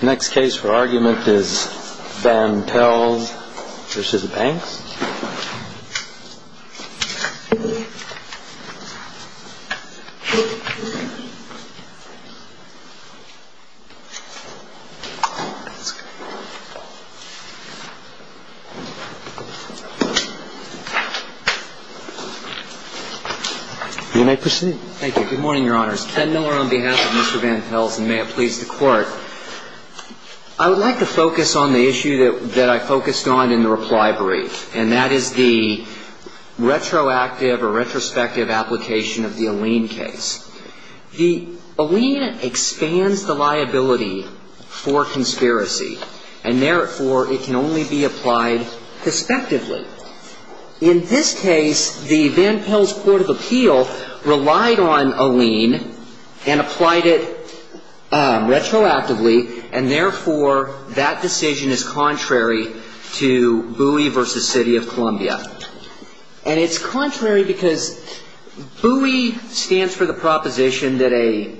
The next case for argument is Van Pelz v. Banks. You may proceed. Thank you. Good morning, Your Honors. Ken Miller on behalf of Mr. Van Pelz, and may it please the Court. I would like to focus on the issue that I focused on in the reply brief, and that is the retroactive or retrospective application of the Alleen case. The Alleen expands the liability for conspiracy, and therefore it can only be applied prospectively. In this case, the Van Pelz Court of Appeal relied on Alleen and applied it retroactively, and therefore that decision is contrary to Bowie v. City of Columbia. And it's contrary because Bowie stands for the proposition that a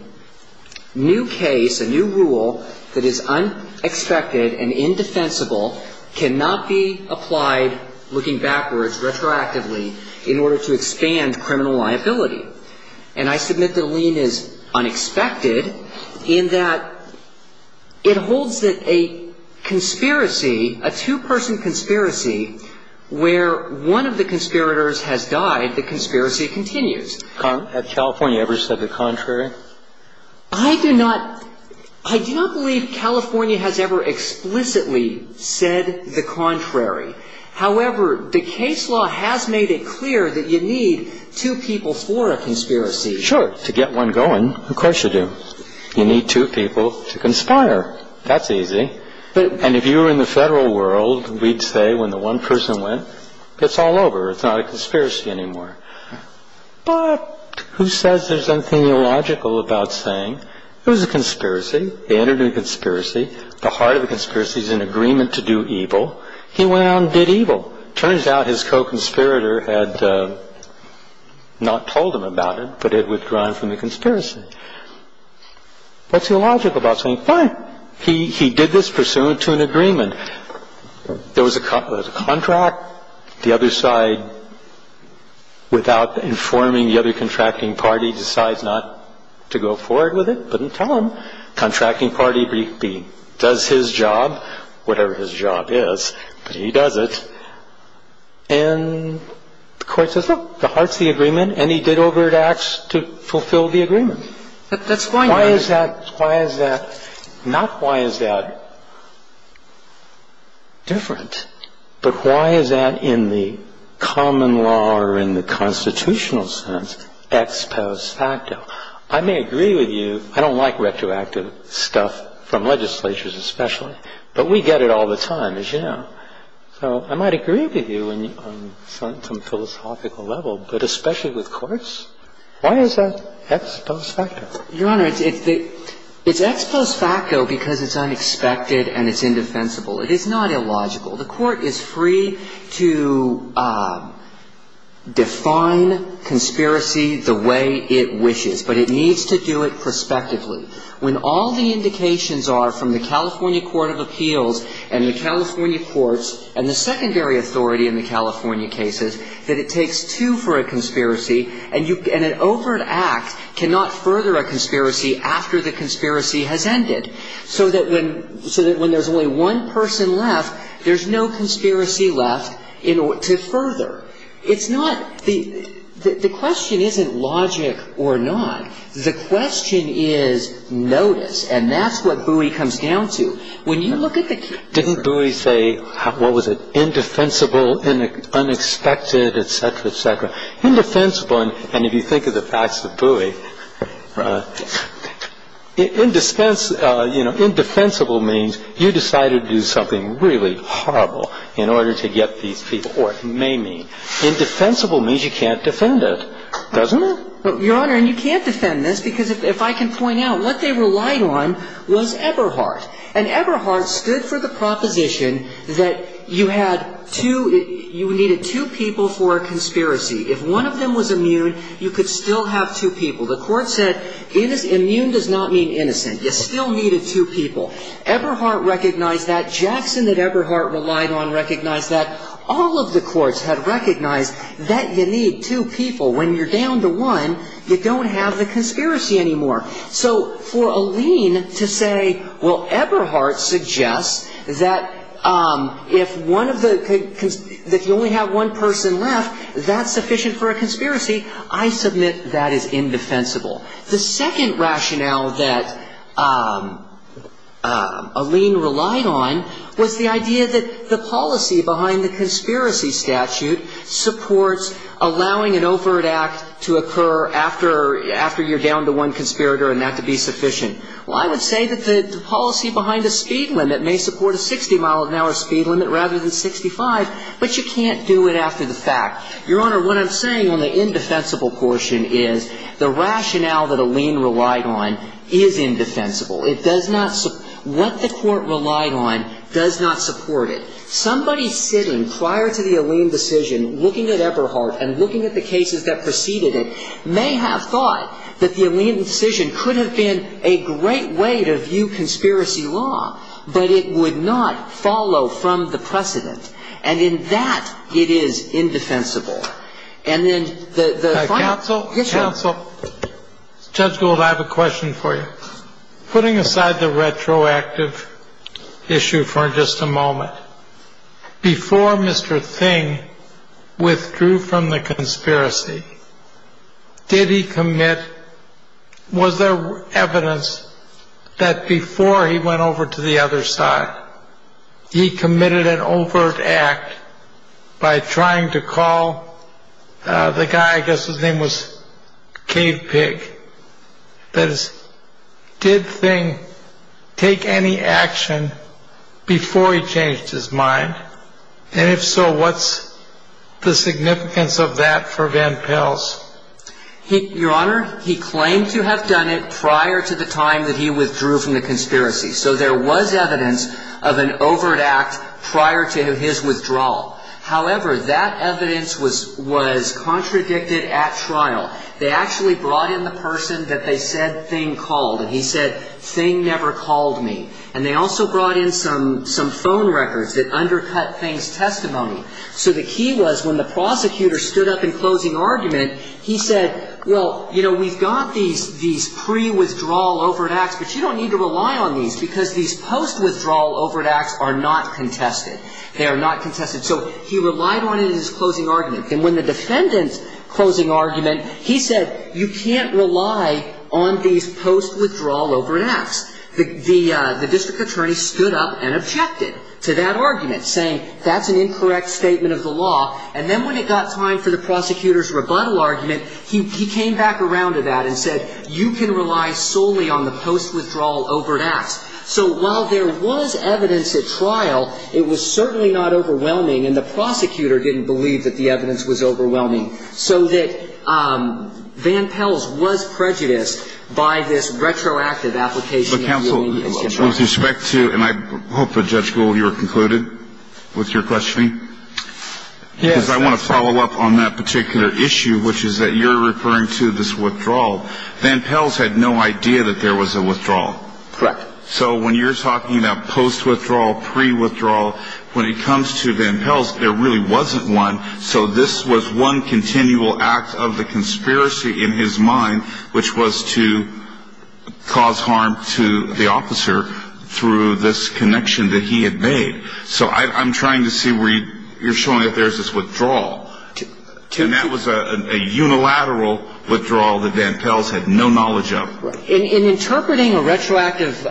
new case, a new rule that is unexpected and indefensible cannot be applied looking backwards, retroactively, in order to expand criminal liability. And I submit that Alleen is unexpected in that it holds that a conspiracy, a two-person conspiracy where one of the conspirators has died, the conspiracy continues. Have California ever said the contrary? I do not – I do not believe California has ever explicitly said the contrary. However, the case law has made it clear that you need two people for a conspiracy. Sure. To get one going, of course you do. You need two people to conspire. That's easy. And if you were in the Federal world, we'd say when the one person went, it's all over. It's not a conspiracy anymore. But who says there's anything illogical about saying it was a conspiracy? They entered into a conspiracy. The heart of the conspiracy is an agreement to do evil. He went out and did evil. Turns out his co-conspirator had not told him about it, but had withdrawn from the conspiracy. What's illogical about saying, fine, he did this pursuant to an agreement. There was a contract. The other side, without informing the other contracting party, decides not to go forward with it. I don't like retroactive stuff from legislatures especially, but we get it all the time, as you know. So I might agree with you on some philosophical level, but especially with courts, why is that ex post facto? Your Honor, it's ex post facto because it's unexpected and it's indefensible. It is not illogical. The Court is free to define conspiracy the way it wishes, but it needs to do it prospectively. When all the indications are from the California Court of Appeals and the California courts and the secondary authority in the California cases, that it takes two for a conspiracy and an overt act cannot further a conspiracy after the conspiracy has ended. So that when there's only one person left, there's no conspiracy left to further. It's not the question isn't logic or not. The question is notice, and that's what Bowie comes down to. When you look at the case. Didn't Bowie say, what was it, indefensible, unexpected, et cetera, et cetera. Indefensible, and if you think of the facts of Bowie, indefensible means you decided to do something really horrible in order to get these people, or it may mean. Indefensible means you can't defend it, doesn't it? Your Honor, and you can't defend this because if I can point out, what they relied on was Eberhardt. And Eberhardt stood for the proposition that you had two, you needed two people for a conspiracy. If one of them was immune, you could still have two people. The court said immune does not mean innocent. You still needed two people. Eberhardt recognized that. Jackson that Eberhardt relied on recognized that. All of the courts had recognized that you need two people. When you're down to one, you don't have the conspiracy anymore. So for Alleyne to say, well, Eberhardt suggests that if one of the, that you only have one person left, that's sufficient for a conspiracy, I submit that is indefensible. The second rationale that Alleyne relied on was the idea that the policy behind the conspiracy statute supports allowing an overt act to occur after you're down to one conspirator and that to be sufficient. Well, I would say that the policy behind the speed limit may support a 60-mile-an-hour speed limit rather than 65, but you can't do it after the fact. Your Honor, what I'm saying on the indefensible portion is the rationale that Alleyne relied on is indefensible. It does not, what the court relied on does not support it. Somebody sitting prior to the Alleyne decision looking at Eberhardt and looking at the cases that preceded it may have thought that the Alleyne decision could have been a great way to view conspiracy law, but it would not follow from the precedent. And in that, it is indefensible. And then the final issue. Counsel, Judge Gould, I have a question for you. Putting aside the retroactive issue for just a moment, before Mr. Thing withdrew from the conspiracy, did he commit, was there evidence that before he went over to the other side, he committed an overt act by trying to call the guy, I guess his name was Cave Pig? That is, did Thing take any action before he changed his mind? And if so, what's the significance of that for Van Pels? Your Honor, he claimed to have done it prior to the time that he withdrew from the conspiracy. So there was evidence of an overt act prior to his withdrawal. However, that evidence was contradicted at trial. They actually brought in the person that they said Thing called, and he said, Thing never called me. And they also brought in some phone records that undercut Thing's testimony. So the key was when the prosecutor stood up in closing argument, he said, well, you know, we've got these pre-withdrawal overt acts, but you don't need to rely on these, because these post-withdrawal overt acts are not contested. They are not contested. So he relied on it in his closing argument. And when the defendant's closing argument, he said, you can't rely on these post-withdrawal overt acts. The district attorney stood up and objected to that argument, saying that's an incorrect statement of the law. And then when it got time for the prosecutor's rebuttal argument, he came back around to that and said, you can rely solely on the post-withdrawal overt acts. So while there was evidence at trial, it was certainly not overwhelming, and the prosecutor didn't believe that the evidence was overwhelming. So that Van Pels was prejudiced by this retroactive application of the convenience of trial. With respect to, and I hope that Judge Gould, you were concluded with your questioning. Yes. Because I want to follow up on that particular issue, which is that you're referring to this withdrawal. Van Pels had no idea that there was a withdrawal. Correct. So when you're talking about post-withdrawal, pre-withdrawal, when it comes to Van Pels, there really wasn't one. So this was one continual act of the conspiracy in his mind, which was to cause harm to the officer through this connection that he had made. So I'm trying to see where you're showing that there's this withdrawal. And that was a unilateral withdrawal that Van Pels had no knowledge of. Right. In interpreting a retroactive,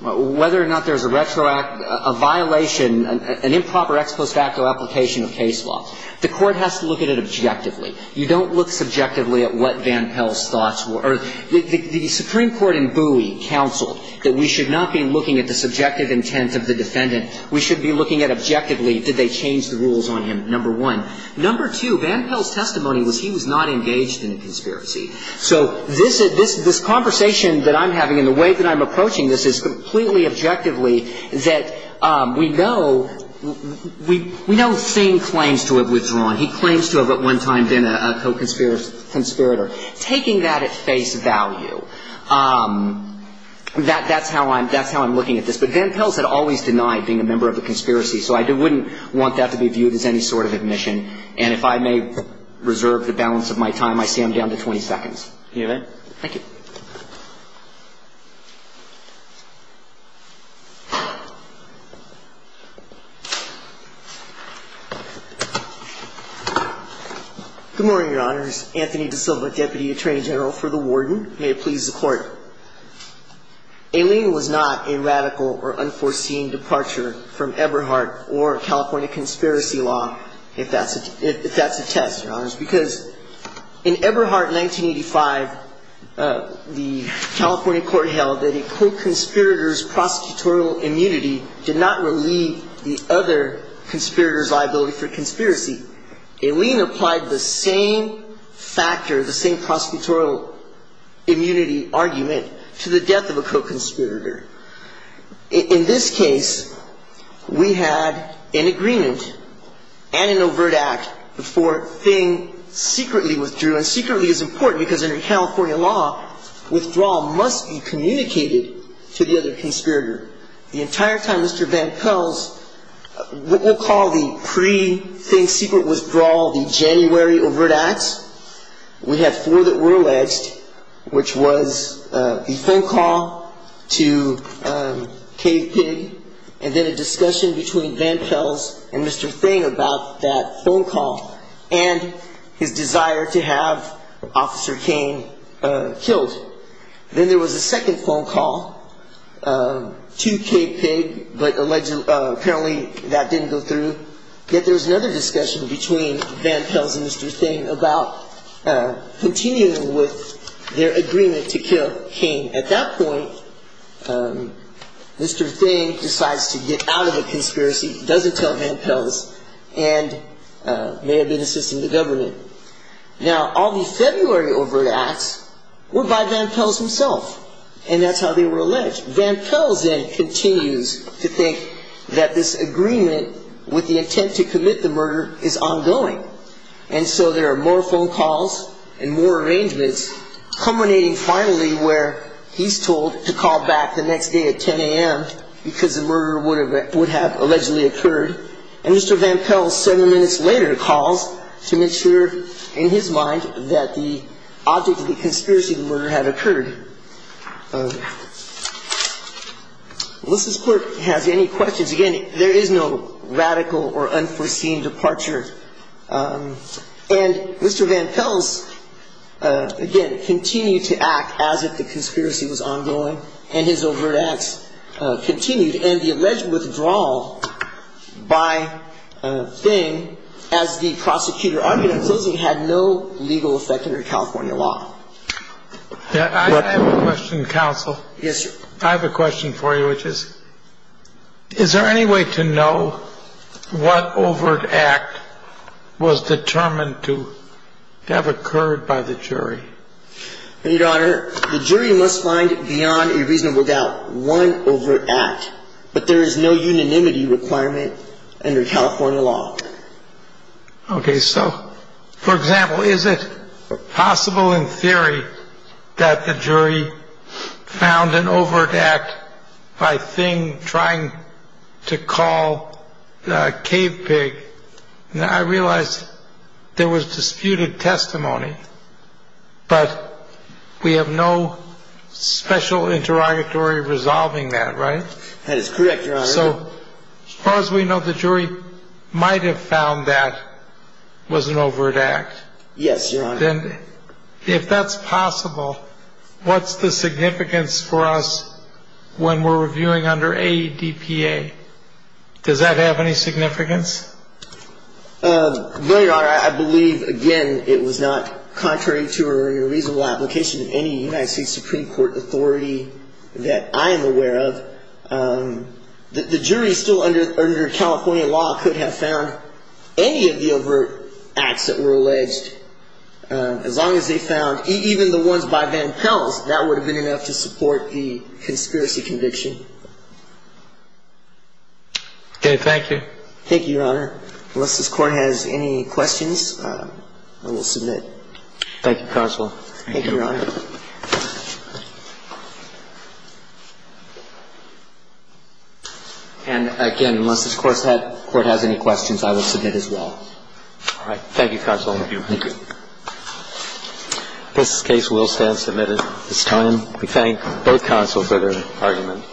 whether or not there's a retroactive violation, an improper ex post facto application of case law, the Court has to look at it objectively. You don't look subjectively at what Van Pels' thoughts were. The Supreme Court in Bowie counseled that we should not be looking at the subjective intent of the defendant. We should be looking at objectively did they change the rules on him, number one. Number two, Van Pels' testimony was he was not engaged in a conspiracy. So this conversation that I'm having and the way that I'm approaching this is completely objectively that we know Singh claims to have withdrawn. He claims to have at one time been a co-conspirator. Taking that at face value, that's how I'm looking at this. But Van Pels had always denied being a member of a conspiracy, so I wouldn't want that to be viewed as any sort of admission. And if I may reserve the balance of my time, I see I'm down to 20 seconds. Can you hear me? Thank you. Good morning, Your Honors. Anthony DaSilva, Deputy Attorney General for the Warden. May it please the Court. Aileen was not a radical or unforeseen departure from Eberhardt or California conspiracy law, if that's a test, Your Honors, because in Eberhardt in 1985, the California court held that a co-conspirator's prosecutorial immunity did not relieve the other conspirator's liability for conspiracy. Aileen applied the same factor, the same prosecutorial immunity argument to the death of a co-conspirator. In this case, we had an agreement and an overt act before Thing secretly withdrew, and secretly is important because under California law, withdrawal must be communicated to the other conspirator. The entire time Mr. Van Pels, what we'll call the pre-Thing secret withdrawal, the January overt acts, we had four that were alleged, which was the phone call to Cave Pig, and then a discussion between Van Pels and Mr. Thing about that phone call and his desire to have Officer Kane killed. Then there was a second phone call to Cave Pig, but apparently that didn't go through. Then there was another discussion between Van Pels and Mr. Thing about continuing with their agreement to kill Kane. At that point, Mr. Thing decides to get out of the conspiracy, doesn't tell Van Pels, and may have been assisting the government. Now, all the February overt acts were by Van Pels himself, and that's how they were alleged. Van Pels then continues to think that this agreement with the intent to commit the murder is ongoing, and so there are more phone calls and more arrangements, culminating finally where he's told to call back the next day at 10 a.m. because the murder would have allegedly occurred, and Mr. Van Pels, several minutes later, calls to make sure in his mind that the object of the conspiracy to murder had occurred. Unless this clerk has any questions, again, there is no radical or unforeseen departure, and Mr. Van Pels, again, continued to act as if the conspiracy was ongoing, and his overt acts continued, and the alleged withdrawal by Thing, as the prosecutor argued, had no legal effect under California law. I have a question, counsel. Yes, sir. I have a question for you, which is, is there any way to know what overt act was determined to have occurred by the jury? Your Honor, the jury must find beyond a reasonable doubt one overt act, but there is no unanimity requirement under California law. Okay, so, for example, is it possible in theory that the jury found an overt act by Thing trying to call Cave Pig? Now, I realize there was disputed testimony, but we have no special interrogatory resolving that, right? That is correct, Your Honor. So, as far as we know, the jury might have found that was an overt act. Yes, Your Honor. Then, if that's possible, what's the significance for us when we're reviewing under ADPA? Does that have any significance? No, Your Honor. I believe, again, it was not contrary to a reasonable application of any United States Supreme Court authority that I am aware of. The jury, still under California law, could have found any of the overt acts that were alleged, as long as they found even the ones by Van Pels, that would have been enough to support the conspiracy conviction. Okay, thank you. Thank you, Your Honor. Unless this Court has any questions, I will submit. Thank you, Counsel. Thank you, Your Honor. And, again, unless this Court has any questions, I will submit as well. All right. Thank you, Counsel. Thank you. This case will stand submitted. It's time we thank both counsels for their argument.